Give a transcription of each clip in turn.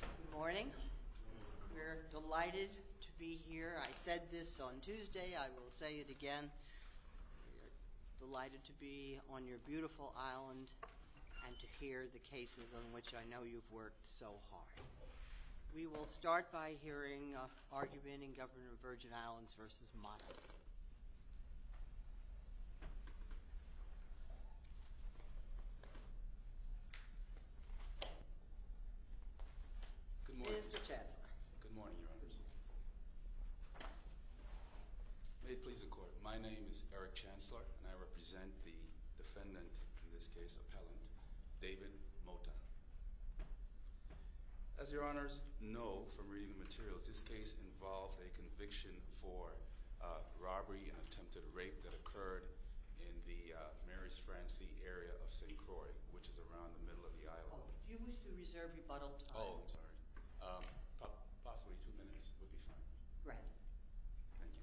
Good morning. We're delighted to be here. I said this on Tuesday. I will say it again. We're delighted to be on your beautiful island and to hear the cases on which I know you've worked so hard. We will start by hearing argument in Governor of Virgin Islands v. Motta. Mr. Chancellor. Good morning, Your Honours. May it please the Court, my name is Eric Chancellor and I represent the defendant, in this case, appellant David Motta. As Your Honours know from reading the materials, this case involved a conviction for robbery and attempted rape that occurred in the Mary's Francie area of St. Croix, which is around the middle of the island. Do you wish to reserve rebuttal time? Oh, I'm sorry. Possibly two minutes would be fine. Right. Thank you.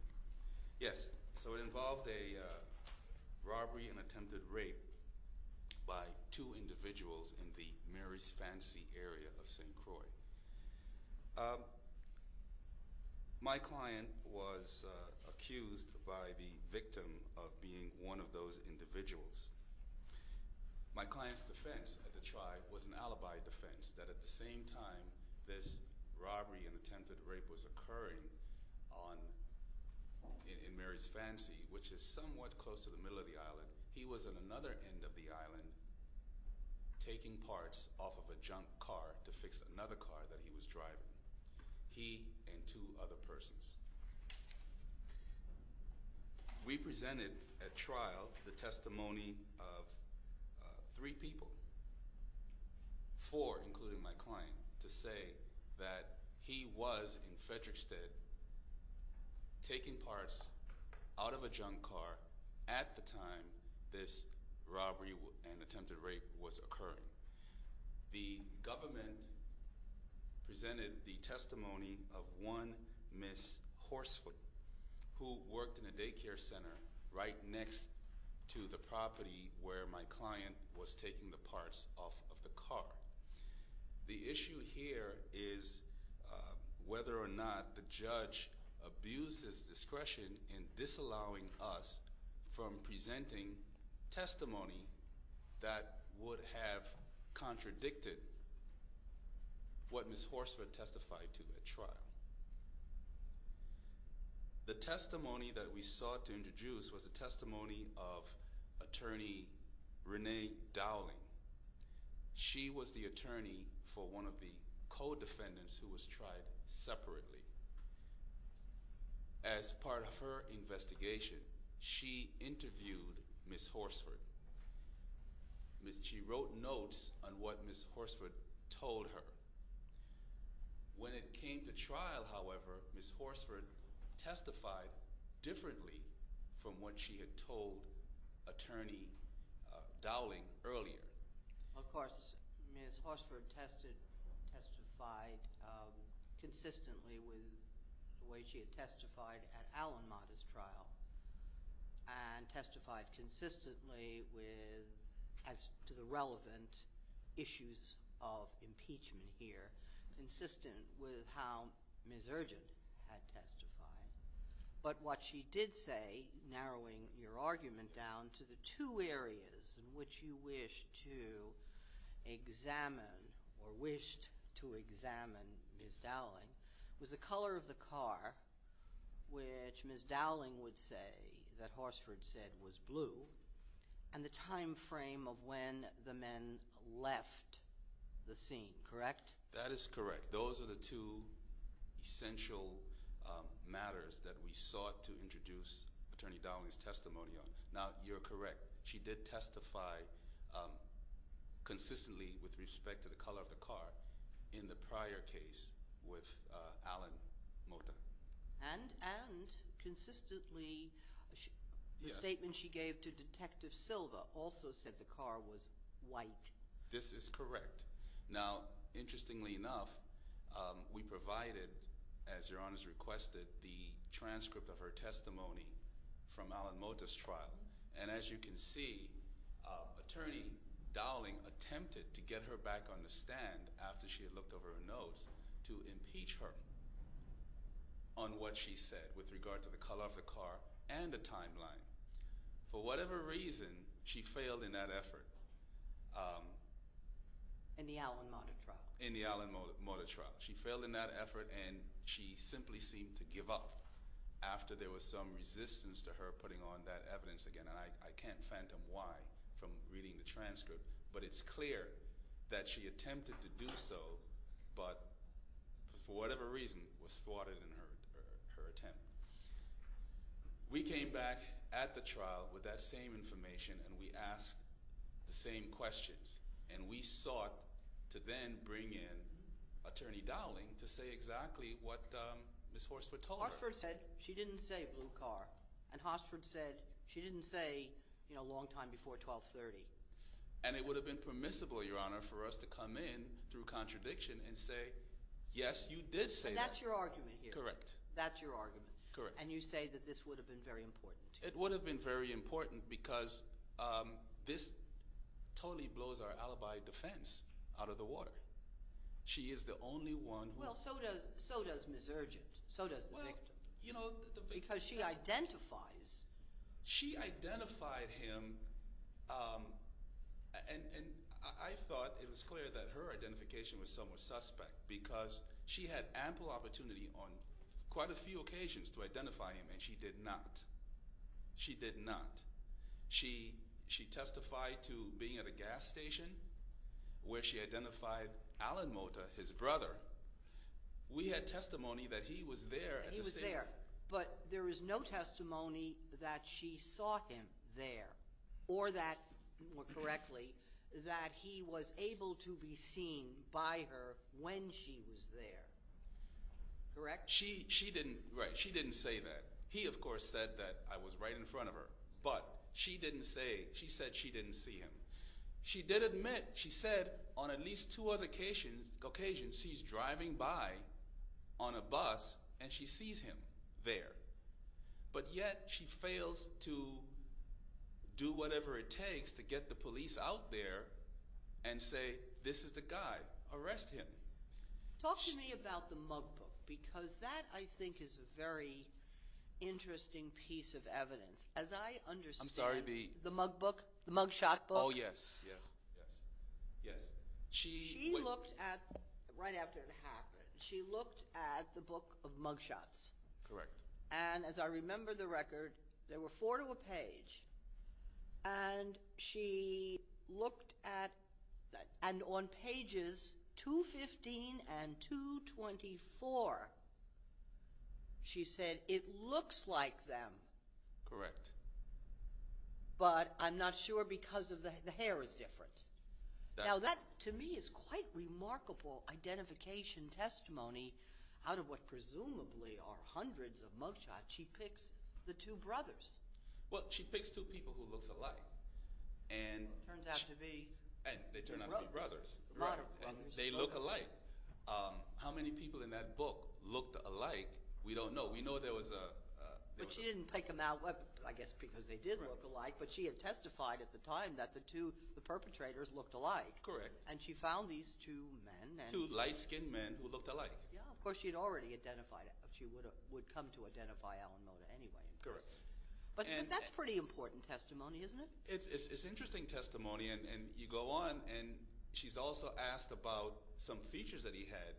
Yes, so it involved a robbery and attempted rape by two individuals in the Mary's Francie area of St. Croix. My client was accused by the victim of being one of those individuals. My client's defense at the trial was an alibi defense that at the same time this robbery and attempted rape was occurring in Mary's Francie, which is somewhat close to the middle of the island, he was at another end of the island taking parts off of a junk car to fix another car that he was driving, he and two other persons. We presented at trial the testimony of three people, four including my client, to say that he was in Frederickstead taking parts out of a junk car at the time this robbery and attempted rape was occurring. The government presented the testimony of one Miss Horsefoot who worked in a daycare center right next to the property where my client was taking the parts off of the car. The issue here is whether or not the judge abused his discretion in disallowing us from presenting testimony that would have contradicted what Miss Horsefoot testified to at trial. The testimony that we sought to introduce was the testimony of attorney Renee Dowling. She was the attorney for one of the co-defendants who was tried separately. As part of her investigation, she interviewed Miss Horsefoot. She wrote notes on what Miss Horsefoot told her. When it came to trial, however, Miss Horsefoot testified differently from what she had told attorney Dowling earlier. Of course, Miss Horsefoot testified consistently with the way she had testified at Alan Mata's trial and testified consistently with – as to the relevant issues of impeachment here – consistent with how Miss Urgent had testified. But what she did say, narrowing your argument down to the two areas in which you wished to examine or wished to examine Miss Dowling, was the color of the car, which Miss Dowling would say that Horsefoot said was blue, and the time frame of when the men left the scene, correct? That is correct. Those are the two essential matters that we sought to introduce attorney Dowling's testimony on. Now, you're correct. She did testify consistently with respect to the color of the car in the prior case with Alan Mata. And consistently, the statement she gave to Detective Silva also said the car was white. This is correct. Now, interestingly enough, we provided, as Your Honors requested, the transcript of her testimony from Alan Mata's trial. And as you can see, attorney Dowling attempted to get her back on the stand after she had looked over her notes to impeach her on what she said with regard to the color of the car and the timeline. For whatever reason, she failed in that effort. In the Alan Mata trial. In the Alan Mata trial. She failed in that effort, and she simply seemed to give up after there was some resistance to her putting on that evidence again. And I can't phantom why from reading the transcript, but it's clear that she attempted to do so, but for whatever reason, was thwarted in her attempt. We came back at the trial with that same information, and we asked the same questions. And we sought to then bring in attorney Dowling to say exactly what Ms. Horsford told her. Horsford said she didn't say blue car, and Horsford said she didn't say, you know, long time before 1230. And it would have been permissible, Your Honor, for us to come in through contradiction and say, yes, you did say that. And that's your argument here. Correct. That's your argument. Correct. And you say that this would have been very important to you. It would have been very important because this totally blows our alibi defense out of the water. She is the only one who – Well, so does Ms. Urgent. So does the victim. Well, you know – Because she identifies – And I thought it was clear that her identification was somewhat suspect because she had ample opportunity on quite a few occasions to identify him, and she did not. She did not. She testified to being at a gas station where she identified Alan Mota, his brother. We had testimony that he was there at the scene. He was there. But there is no testimony that she saw him there or that, more correctly, that he was able to be seen by her when she was there. Correct? She didn't – right. She didn't say that. He, of course, said that I was right in front of her. But she didn't say – she said she didn't see him. She did admit – she said on at least two occasions she's driving by on a bus and she sees him there. But yet she fails to do whatever it takes to get the police out there and say, this is the guy. Arrest him. Talk to me about the mug book because that, I think, is a very interesting piece of evidence. As I understand – I'm sorry. The mug book? The mug shot book? Oh, yes, yes, yes, yes. She – wait. She looked at – right after it happened, she looked at the book of mug shots. Correct. And as I remember the record, there were four to a page. And she looked at – and on pages 215 and 224 she said, it looks like them. Correct. But I'm not sure because the hair is different. Now that, to me, is quite remarkable identification testimony out of what presumably are hundreds of mug shots. She picks the two brothers. Well, she picks two people who look alike. And – Turns out to be – And they turn out to be brothers. They look alike. How many people in that book looked alike, we don't know. We know there was a – But she didn't pick them out, I guess, because they did look alike. But she had testified at the time that the two – the perpetrators looked alike. Correct. And she found these two men. Two light-skinned men who looked alike. Yeah. Of course, she had already identified – she would come to identify Alan Mota anyway. Correct. But that's pretty important testimony, isn't it? It's interesting testimony. And you go on and she's also asked about some features that he had.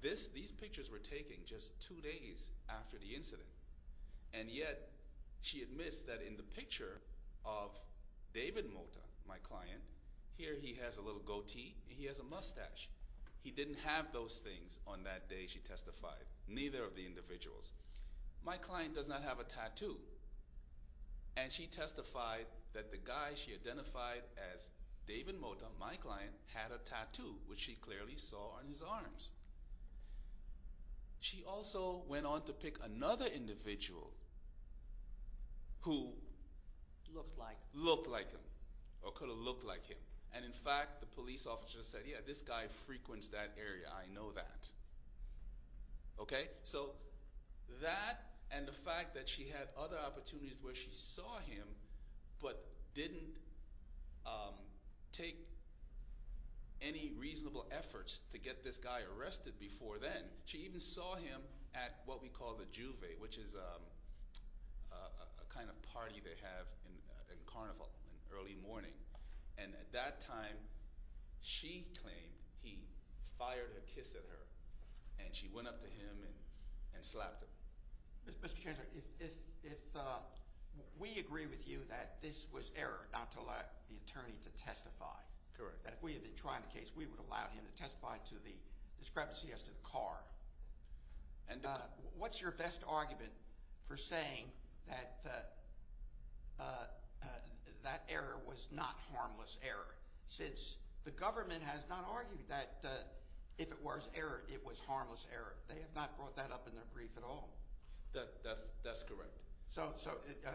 These pictures were taken just two days after the incident. And yet, she admits that in the picture of David Mota, my client, here he has a little goatee and he has a mustache. He didn't have those things on that day, she testified. Neither of the individuals. My client does not have a tattoo. And she testified that the guy she identified as David Mota, my client, had a tattoo, which she clearly saw on his arms. She also went on to pick another individual who looked like him or could have looked like him. And in fact, the police officer said, yeah, this guy frequents that area. I know that. Okay? So that and the fact that she had other opportunities where she saw him but didn't take any reasonable efforts to get this guy arrested before then. She even saw him at what we call the juve, which is a kind of party they have in Carnival in early morning. And at that time, she claimed he fired a kiss at her and she went up to him and slapped him. Mr. Chancellor, if we agree with you that this was error not to allow the attorney to testify. Correct. That if we had been trying the case, we would have allowed him to testify to the discrepancy as to the car. And what's your best argument for saying that that error was not harmless error since the government has not argued that if it was error, it was harmless error. They have not brought that up in their brief at all. That's correct. So,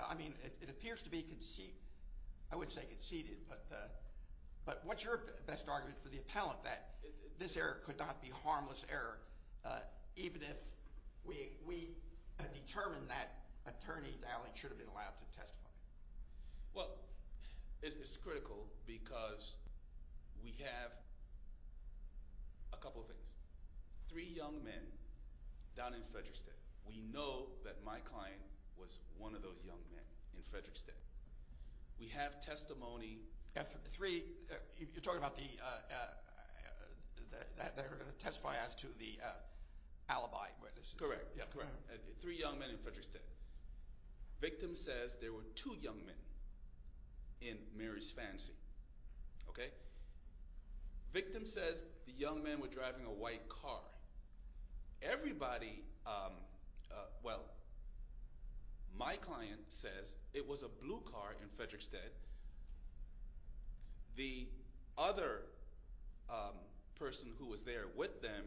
I mean, it appears to be conceded. I would say conceded. But what's your best argument for the appellant that this error could not be harmless error even if we had determined that attorney should have been allowed to testify? Well, it is critical because we have a couple of things. Three young men down in Frederic State. We know that my client was one of those young men in Frederic State. We have testimony. You're talking about the testifying as to the alibi. Correct. Three young men in Frederic State. Victim says there were two young men in Mary's Fancy. Okay? Victim says the young men were driving a white car. Everybody – well, my client says it was a blue car in Frederic State. The other person who was there with them,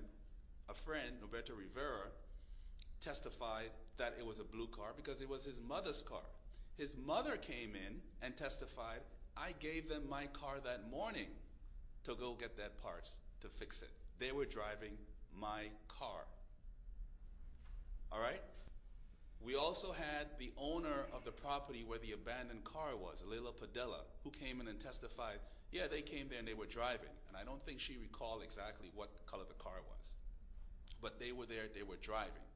a friend, Roberto Rivera, testified that it was a blue car because it was his mother's car. His mother came in and testified, I gave them my car that morning to go get that parts to fix it. They were driving my car. All right? We also had the owner of the property where the abandoned car was, Leila Padilla, who came in and testified, yeah, they came there and they were driving. And I don't think she recalled exactly what color the car was. But they were there. They were driving.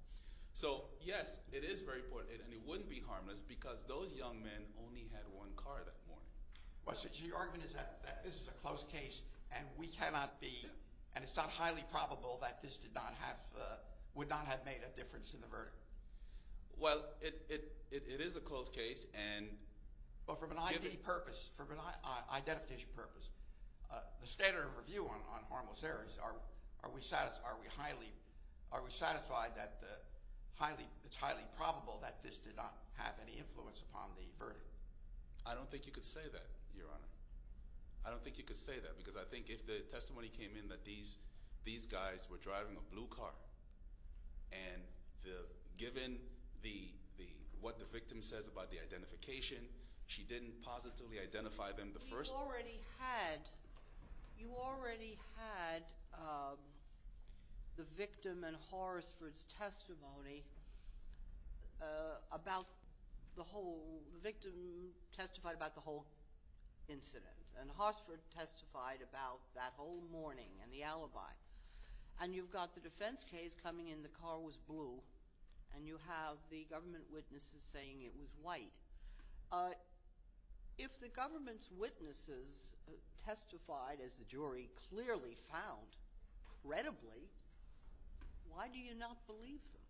So, yes, it is very important, and it wouldn't be harmless because those young men only had one car that morning. So your argument is that this is a closed case and we cannot be – and it's not highly probable that this did not have – would not have made a difference in the verdict? Well, it is a closed case and – But from an ID purpose, from an identification purpose, the standard of review on harmless areas, are we highly – are we satisfied that highly – it's highly probable that this did not have any influence upon the verdict? I don't think you could say that, Your Honor. I don't think you could say that because I think if the testimony came in that these guys were driving a blue car, and given the – what the victim says about the identification, she didn't positively identify them the first time. You already had – you already had the victim and Horsford's testimony about the whole – the victim testified about the whole incident. And Horsford testified about that whole morning and the alibi. And you've got the defense case coming in, the car was blue, and you have the government witnesses saying it was white. If the government's witnesses testified, as the jury clearly found, credibly, why do you not believe them?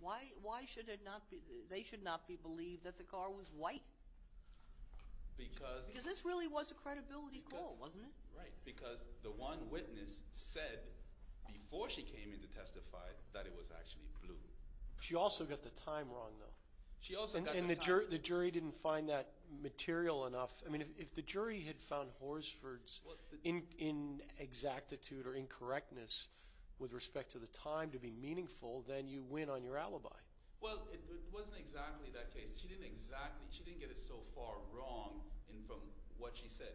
Why should it not be – they should not be believed that the car was white? Because – Because this really was a credibility call, wasn't it? Right, because the one witness said before she came in to testify that it was actually blue. She also got the time wrong, though. She also got the time wrong. And the jury didn't find that material enough. I mean if the jury had found Horsford's inexactitude or incorrectness with respect to the time to be meaningful, then you win on your alibi. Well, it wasn't exactly that case. She didn't exactly – she didn't get it so far wrong from what she said.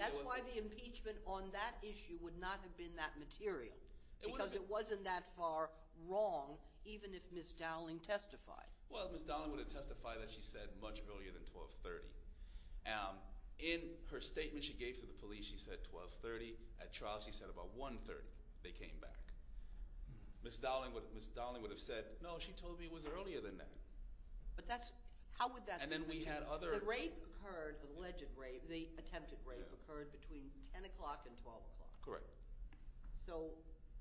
That's why the impeachment on that issue would not have been that material because it wasn't that far wrong even if Ms. Dowling testified. Well, Ms. Dowling would have testified that she said much earlier than 12.30. In her statement she gave to the police, she said 12.30. At trial, she said about 1.30 they came back. Ms. Dowling would have said, no, she told me it was earlier than that. But that's – how would that – And then we had other – The rape occurred – the alleged rape – the attempted rape occurred between 10 o'clock and 12 o'clock. Correct. So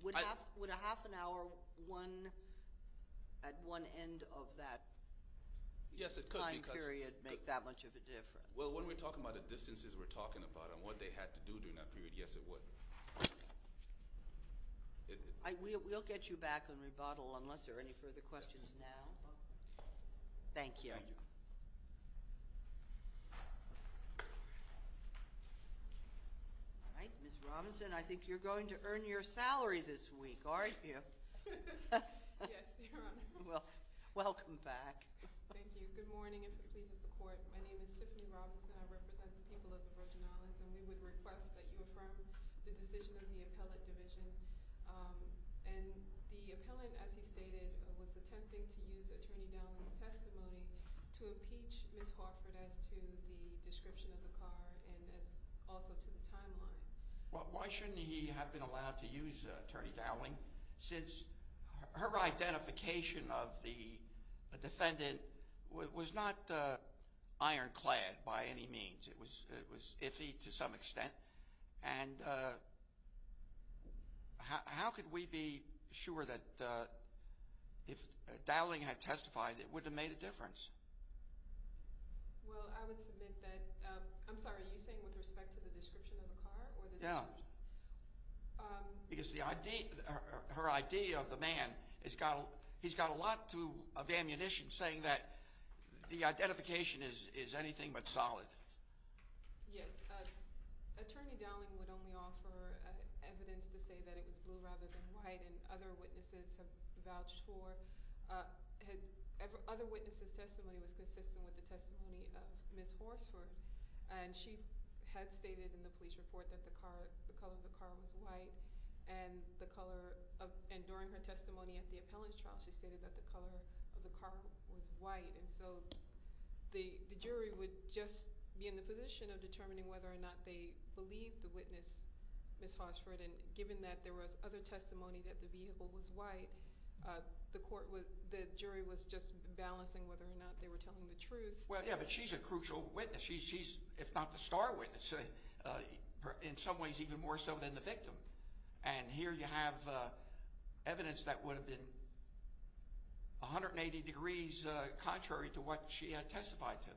would a half an hour at one end of that time period make that much of a difference? Well, when we're talking about the distances we're talking about and what they had to do during that period, yes, it would. We'll get you back on rebuttal unless there are any further questions now. Thank you. All right, Ms. Robinson, I think you're going to earn your salary this week, aren't you? Yes, Your Honor. Well, welcome back. Thank you. Good morning. If it pleases the Court, my name is Tiffany Robinson. I represent the people of the Virgin Islands, and we would request that you affirm the decision of the appellate division. And the appellant, as he stated, was attempting to use Attorney Dowling's testimony to impeach Ms. Hartford as to the description of the car and also to the timeline. Well, why shouldn't he have been allowed to use Attorney Dowling since her identification of the defendant was not ironclad by any means? It was iffy to some extent. And how could we be sure that if Dowling had testified, it would have made a difference? Well, I would submit that – I'm sorry, are you saying with respect to the description of the car or the description? Yeah. Because her ID of the man, he's got a lot of ammunition saying that the identification is anything but solid. Yes. Attorney Dowling would only offer evidence to say that it was blue rather than white, and other witnesses have vouched for – other witnesses' testimony was consistent with the testimony of Ms. Horsford. And she had stated in the police report that the color of the car was white. And the color of – and during her testimony at the appellant's trial, she stated that the color of the car was white. And so the jury would just be in the position of determining whether or not they believed the witness, Ms. Horsford. And given that there was other testimony that the vehicle was white, the jury was just balancing whether or not they were telling the truth. Well, yeah, but she's a crucial witness. She's, if not the star witness, in some ways even more so than the victim. And here you have evidence that would have been 180 degrees contrary to what she had testified to.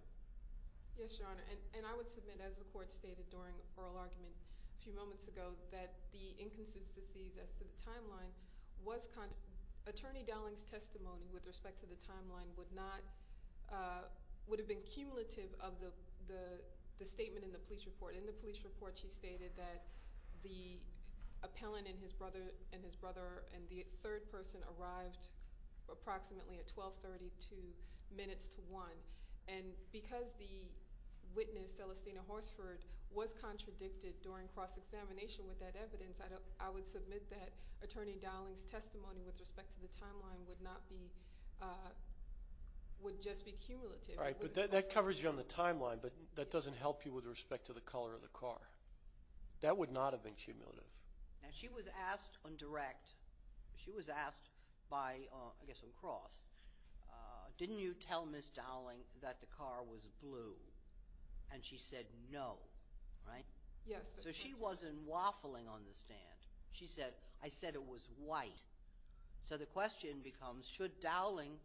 Yes, Your Honor. And I would submit, as the Court stated during oral argument a few moments ago, that the inconsistencies as to the timeline was – Attorney Dowling's testimony with respect to the timeline would not – would have been cumulative of the statement in the police report. In the police report, she stated that the appellant and his brother and the third person arrived approximately at 1232 minutes to 1. And because the witness, Celestina Horsford, was contradicted during cross-examination with that evidence, I would submit that Attorney Dowling's testimony with respect to the timeline would not be – would just be cumulative. All right, but that covers you on the timeline, but that doesn't help you with respect to the color of the car. That would not have been cumulative. And she was asked on direct – she was asked by, I guess, on cross, didn't you tell Ms. Dowling that the car was blue? And she said no, right? Yes. So she wasn't waffling on the stand. She said, I said it was white. So the question becomes, should Dowling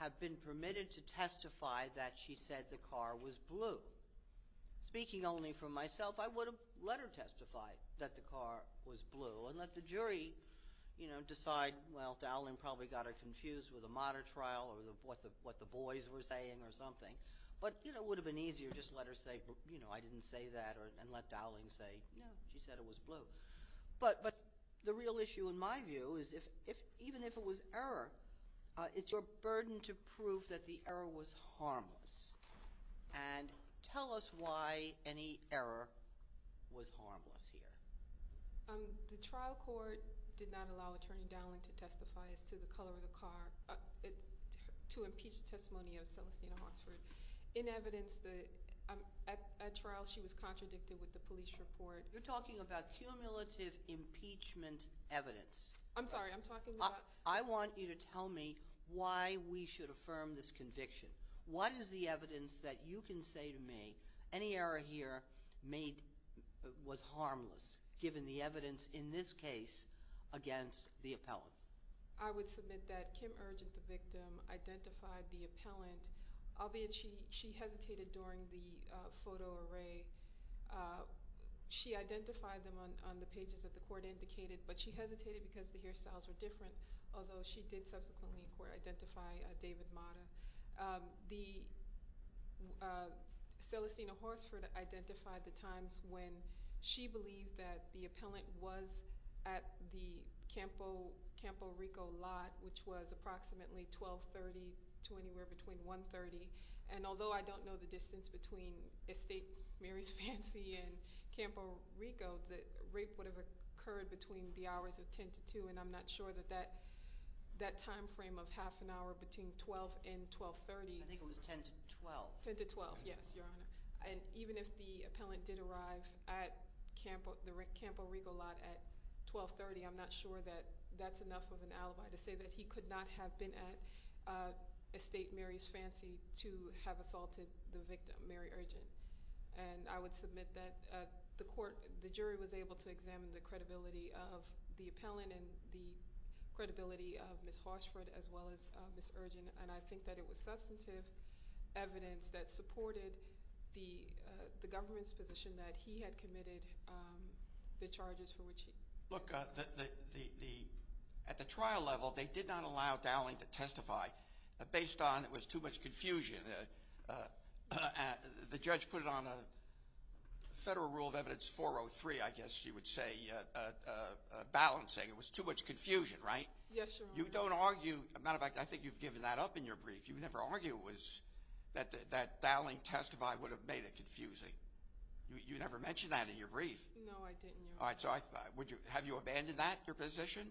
have been permitted to testify that she said the car was blue? Speaking only for myself, I would have let her testify that the car was blue and let the jury, you know, decide – well, Dowling probably got her confused with a modern trial or what the boys were saying or something. But, you know, it would have been easier to just let her say, you know, I didn't say that and let Dowling say, no, she said it was blue. But the real issue in my view is if – even if it was error, it's your burden to prove that the error was harmless. And tell us why any error was harmless here. The trial court did not allow Attorney Dowling to testify as to the color of the car to impeach the testimony of Celestina Hawksford. In evidence, at trial, she was contradicted with the police report. You're talking about cumulative impeachment evidence. I'm sorry. I'm talking about – I want you to tell me why we should affirm this conviction. What is the evidence that you can say to me any error here was harmless given the evidence in this case against the appellant? I would submit that Kim Urgent, the victim, identified the appellant, albeit she hesitated during the photo array. She identified them on the pages that the court indicated, but she hesitated because the hairstyles were different, although she did subsequently in court identify David Mata. Celestina Hawksford identified the times when she believed that the appellant was at the Campo Rico lot, which was approximately 1230 to anywhere between 130. And although I don't know the distance between Estate Mary's Fancy and Campo Rico, the rape would have occurred between the hours of 10 to 2, and I'm not sure that that timeframe of half an hour between 12 and 1230 – I think it was 10 to 12. 10 to 12, yes, Your Honor. And even if the appellant did arrive at Campo Rico lot at 1230, I'm not sure that that's enough of an alibi to say that he could not have been at Estate Mary's Fancy to have assaulted the victim, Mary Urgent. And I would submit that the jury was able to examine the credibility of the appellant and the credibility of Ms. Hawksford as well as Ms. Urgent, and I think that it was substantive evidence that supported the government's position that he had committed the charges for which he – Look, at the trial level, they did not allow Dowling to testify based on it was too much confusion. The judge put it on a Federal Rule of Evidence 403, I guess you would say, balancing. It was too much confusion, right? Yes, Your Honor. You don't argue – as a matter of fact, I think you've given that up in your brief. You've never argued that Dowling testify would have made it confusing. You never mentioned that in your brief. No, I didn't, Your Honor. All right. So have you abandoned that, your position?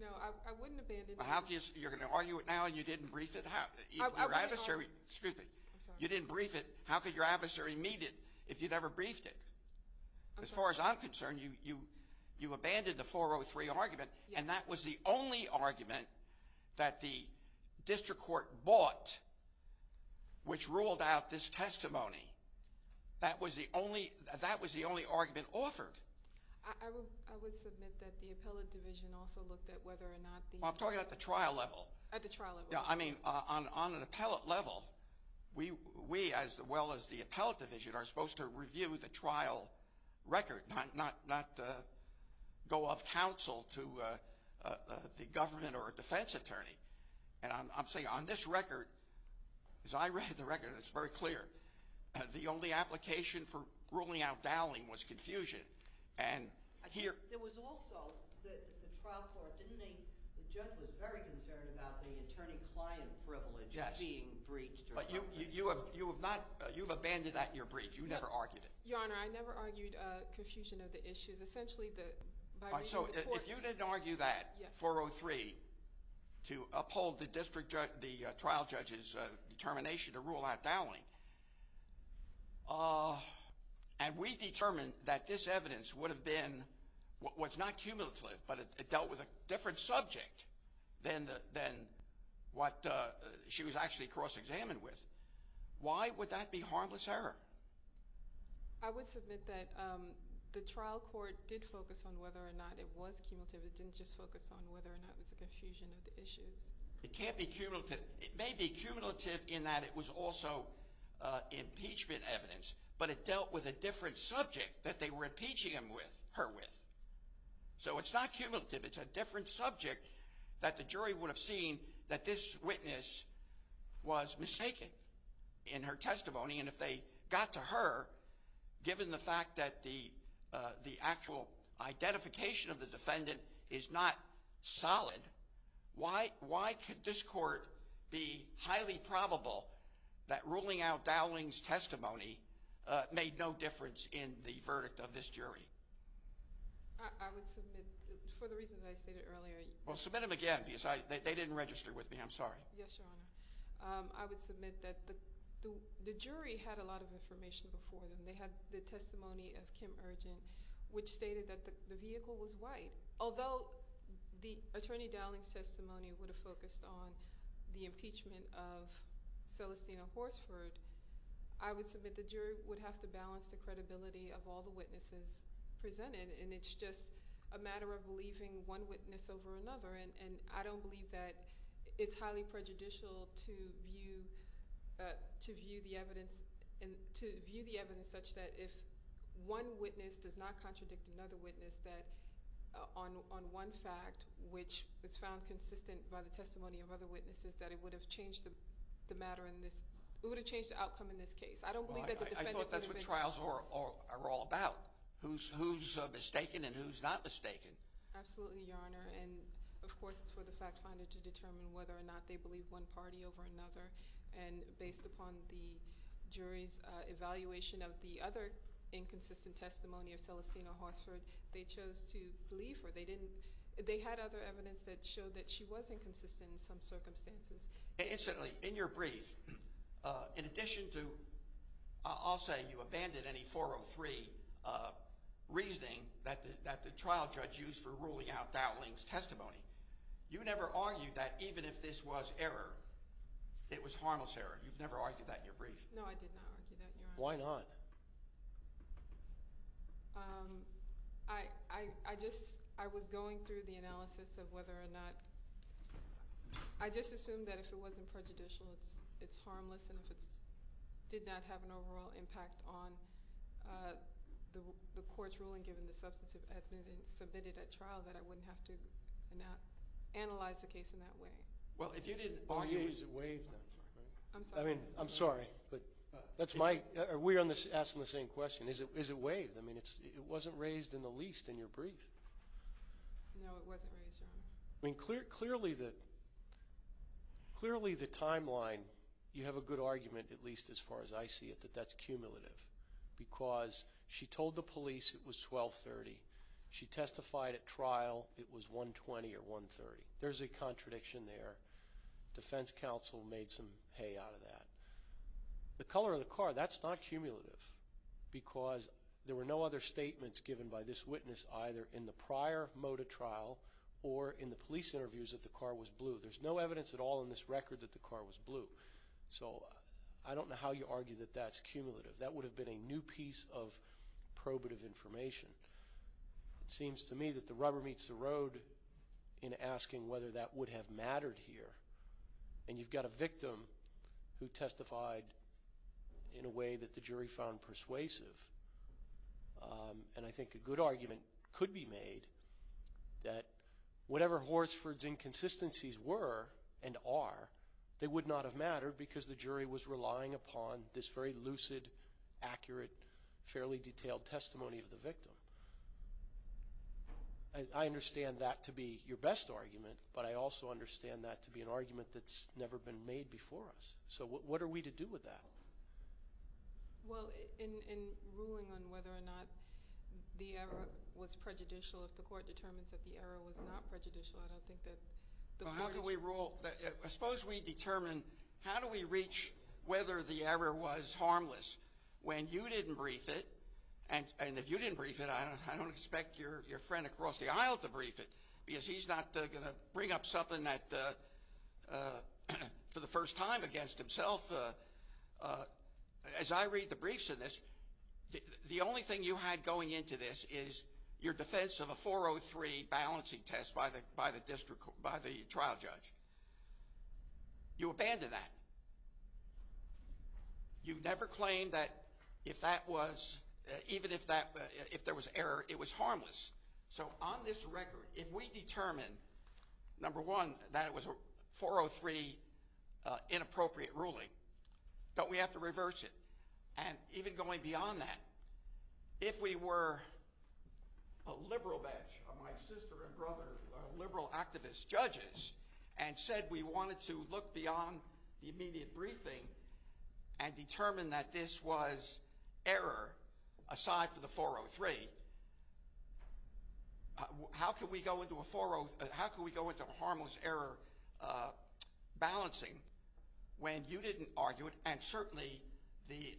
No, I wouldn't abandon it. You're going to argue it now and you didn't brief it? I wouldn't argue it. Excuse me. I'm sorry. You didn't brief it. How could your adversary meet it if you never briefed it? I'm sorry. As far as I'm concerned, you abandoned the 403 argument, and that was the only argument that the district court bought which ruled out this testimony. That was the only argument offered. I would submit that the appellate division also looked at whether or not the – Well, I'm talking about the trial level. At the trial level. I mean, on an appellate level, we, as well as the appellate division, are supposed to review the trial record, not go off-counsel to the government or a defense attorney. And I'm saying on this record, as I read the record, and it's very clear, the only application for ruling out Dowling was confusion. There was also the trial court, didn't they? The judge was very concerned about the attorney-client privilege being breached. But you have not – you've abandoned that in your brief. You never argued it. Your Honor, I never argued confusion of the issues. Essentially, by reading the courts – So if you didn't argue that, 403, to uphold the trial judge's determination to rule out Dowling, and we determined that this evidence would have been – was not cumulative, but it dealt with a different subject than what she was actually cross-examined with, why would that be harmless error? I would submit that the trial court did focus on whether or not it was cumulative. It didn't just focus on whether or not it was a confusion of the issues. It can't be cumulative. It may be cumulative in that it was also impeachment evidence, but it dealt with a different subject that they were impeaching her with. So it's not cumulative. It's a different subject that the jury would have seen that this witness was mistaken in her testimony. And if they got to her, given the fact that the actual identification of the defendant is not solid, why could this court be highly probable that ruling out Dowling's testimony made no difference in the verdict of this jury? I would submit, for the reasons I stated earlier – Well, submit them again because they didn't register with me. I'm sorry. Yes, Your Honor. I would submit that the jury had a lot of information before them. They had the testimony of Kim Urgent, which stated that the vehicle was white. Although the attorney Dowling's testimony would have focused on the impeachment of Celestina Horsford, I would submit the jury would have to balance the credibility of all the witnesses presented, and it's just a matter of believing one witness over another. And I don't believe that it's highly prejudicial to view the evidence such that if one witness does not contradict another witness, that on one fact, which was found consistent by the testimony of other witnesses, that it would have changed the matter in this – it would have changed the outcome in this case. I don't believe that the defendant would have been – I thought that's what trials are all about, who's mistaken and who's not mistaken. Absolutely, Your Honor. And, of course, it's for the fact finder to determine whether or not they believe one party over another. And based upon the jury's evaluation of the other inconsistent testimony of Celestina Horsford, they chose to believe her. They didn't – they had other evidence that showed that she was inconsistent in some circumstances. Incidentally, in your brief, in addition to – I'll say you abandoned any 403 reasoning that the trial judge used for ruling out Dowling's testimony. You never argued that even if this was error, it was harmless error. You've never argued that in your brief. No, I did not argue that, Your Honor. Why not? I just – I was going through the analysis of whether or not – I just assumed that if it wasn't prejudicial, it's harmless. And if it did not have an overall impact on the court's ruling given the substance of evidence submitted at trial, that I wouldn't have to analyze the case in that way. Well, if you didn't argue – Is it waived? I'm sorry. I mean, I'm sorry, but that's my – we're asking the same question. Is it waived? I mean, it wasn't raised in the least in your brief. No, it wasn't raised, Your Honor. I mean, clearly the timeline – you have a good argument, at least as far as I see it, that that's cumulative because she told the police it was 1230. She testified at trial it was 120 or 130. There's a contradiction there. Defense counsel made some hay out of that. The color of the car, that's not cumulative because there were no other statements given by this witness either in the prior mode of trial or in the police interviews that the car was blue. There's no evidence at all in this record that the car was blue. So I don't know how you argue that that's cumulative. That would have been a new piece of probative information. It seems to me that the rubber meets the road in asking whether that would have mattered here. And you've got a victim who testified in a way that the jury found persuasive. And I think a good argument could be made that whatever Horsford's inconsistencies were and are, they would not have mattered because the jury was relying upon this very lucid, accurate, fairly detailed testimony of the victim. I understand that to be your best argument, but I also understand that to be an argument that's never been made before us. So what are we to do with that? Well, in ruling on whether or not the error was prejudicial, if the court determines that the error was not prejudicial, I don't think that the court is going to- Well, how do we rule? I suppose we determine how do we reach whether the error was harmless when you didn't brief it. And if you didn't brief it, I don't expect your friend across the aisle to brief it because he's not going to bring up something for the first time against himself. As I read the briefs of this, the only thing you had going into this is your defense of a 403 balancing test by the trial judge. You abandoned that. You never claimed that even if there was error, it was harmless. So on this record, if we determine, number one, that it was a 403 inappropriate ruling, don't we have to reverse it? And even going beyond that, if we were a liberal bench of my sister and brother, liberal activist judges, and said we wanted to look beyond the immediate briefing and determine that this was error aside from the 403, how can we go into a harmless error balancing when you didn't argue it and certainly the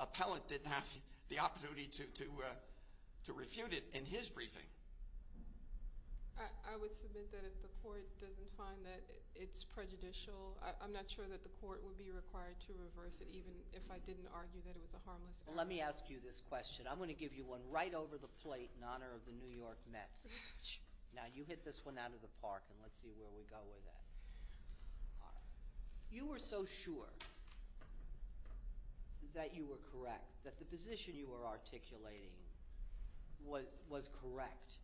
appellant didn't have the opportunity to refute it in his briefing? I would submit that if the court doesn't find that it's prejudicial, I'm not sure that the court would be required to reverse it even if I didn't argue that it was a harmless error. Let me ask you this question. I'm going to give you one right over the plate in honor of the New York Mets. Now, you hit this one out of the park, and let's see where we go with that. You were so sure that you were correct, that the position you were articulating was correct,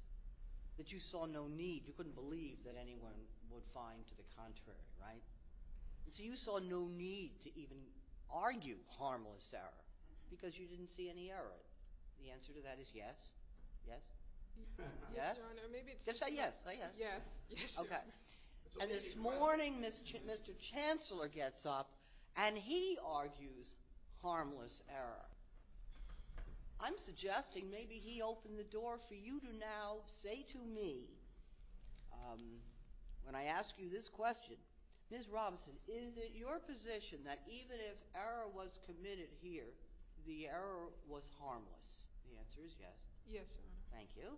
that you saw no need. You couldn't believe that anyone would find to the contrary, right? So you saw no need to even argue harmless error because you didn't see any error. The answer to that is yes. Yes? Yes, Your Honor. Maybe it's true. Yes. Yes. Okay. And this morning, Mr. Chancellor gets up, and he argues harmless error. I'm suggesting maybe he opened the door for you to now say to me, when I ask you this question, Ms. Robinson, is it your position that even if error was committed here, the error was harmless? The answer is yes. Yes, Your Honor. Thank you.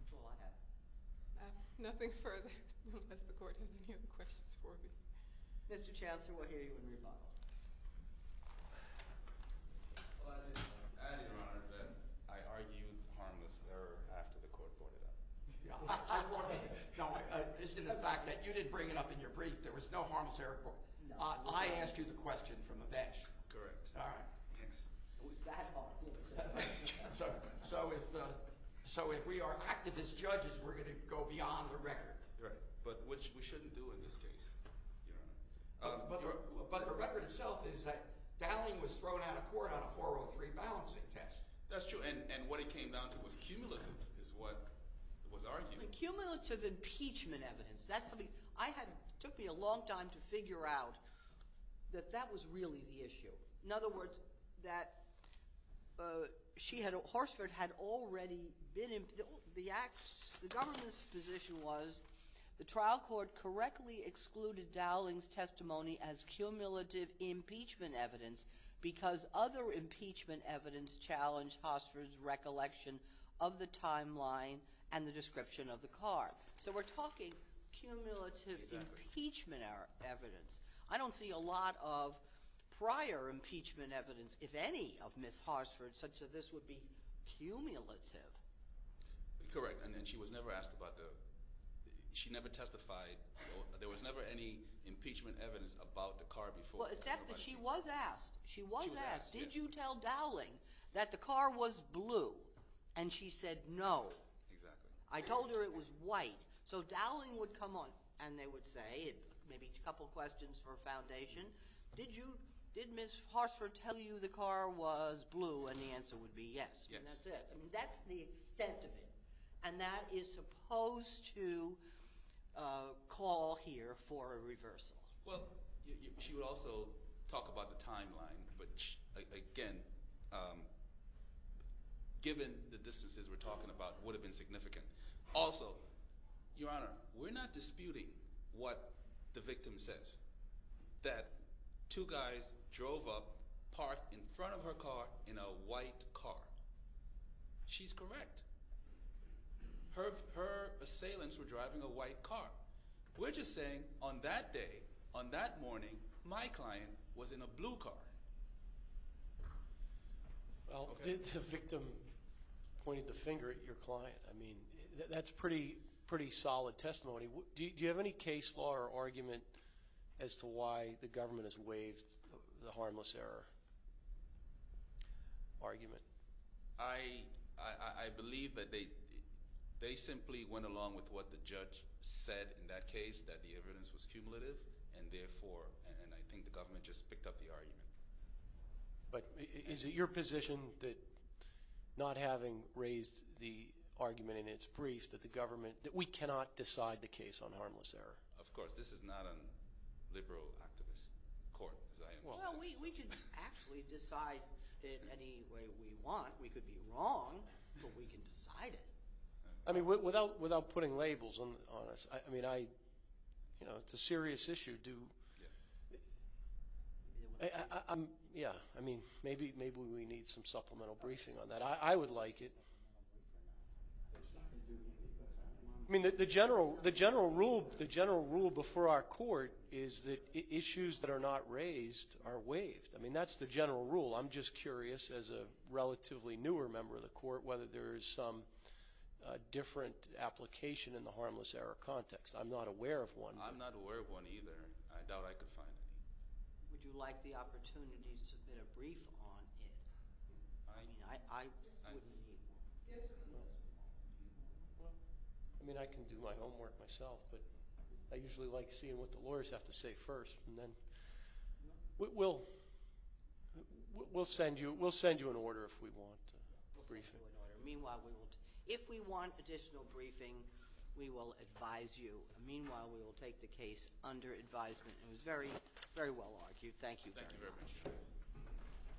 That's all I have. Nothing further, unless the court has any other questions for me. Mr. Chancellor, we'll hear you in rebuttal. Well, I just want to add, Your Honor, that I argued harmless error after the court brought it up. No, this is in the fact that you didn't bring it up in your brief. There was no harmless error. I asked you the question from a bench. Correct. All right. It was that hard. So if we are activists, judges, we're going to go beyond the record. Right, but which we shouldn't do in this case, Your Honor. But the record itself is that Dowling was thrown out of court on a 403 balancing test. That's true, and what it came down to was cumulative, is what was argued. Cumulative impeachment evidence. That's something I had – it took me a long time to figure out that that was really the issue. In other words, that Horstfeld had already been – the government's position was the trial court correctly excluded Dowling's testimony as cumulative impeachment evidence because other impeachment evidence challenged Horstfeld's recollection of the timeline and the description of the car. So we're talking cumulative impeachment evidence. I don't see a lot of prior impeachment evidence, if any, of Ms. Horstfeld such that this would be cumulative. Correct, and she was never asked about the – she never testified. There was never any impeachment evidence about the car before. Except that she was asked. She was asked, did you tell Dowling that the car was blue? And she said no. Exactly. I told her it was white. So Dowling would come on, and they would say – maybe a couple questions for foundation. Did Ms. Horstfeld tell you the car was blue? And the answer would be yes, and that's it. Call here for a reversal. Well, she would also talk about the timeline, which, again, given the distances we're talking about, would have been significant. Also, Your Honor, we're not disputing what the victim says, that two guys drove up, parked in front of her car in a white car. She's correct. Her assailants were driving a white car. We're just saying on that day, on that morning, my client was in a blue car. Well, did the victim point the finger at your client? I mean, that's pretty solid testimony. Do you have any case law or argument as to why the government has waived the harmless error argument? I believe that they simply went along with what the judge said in that case, that the evidence was cumulative, and therefore – and I think the government just picked up the argument. But is it your position that not having raised the argument in its brief that the government – that we cannot decide the case on harmless error? Of course. This is not a liberal activist court, as I understand it. Well, we can actually decide in any way we want. We could be wrong, but we can decide it. I mean, without putting labels on us, I mean, I – you know, it's a serious issue. Yeah, I mean, maybe we need some supplemental briefing on that. I would like it. I mean, the general rule before our court is that issues that are not raised are waived. I mean, that's the general rule. I'm just curious, as a relatively newer member of the court, whether there is some different application in the harmless error context. I'm not aware of one. I'm not aware of one either. I doubt I could find any. Would you like the opportunity to submit a brief on it? I mean, I wouldn't need one. I mean, I can do my homework myself, but I usually like seeing what the lawyers have to say first. And then we'll send you an order if we want a briefing. We'll send you an order. Meanwhile, we will – if we want additional briefing, we will advise you. Meanwhile, we will take the case under advisement. It was very, very well argued. Thank you very much. Thank you very much.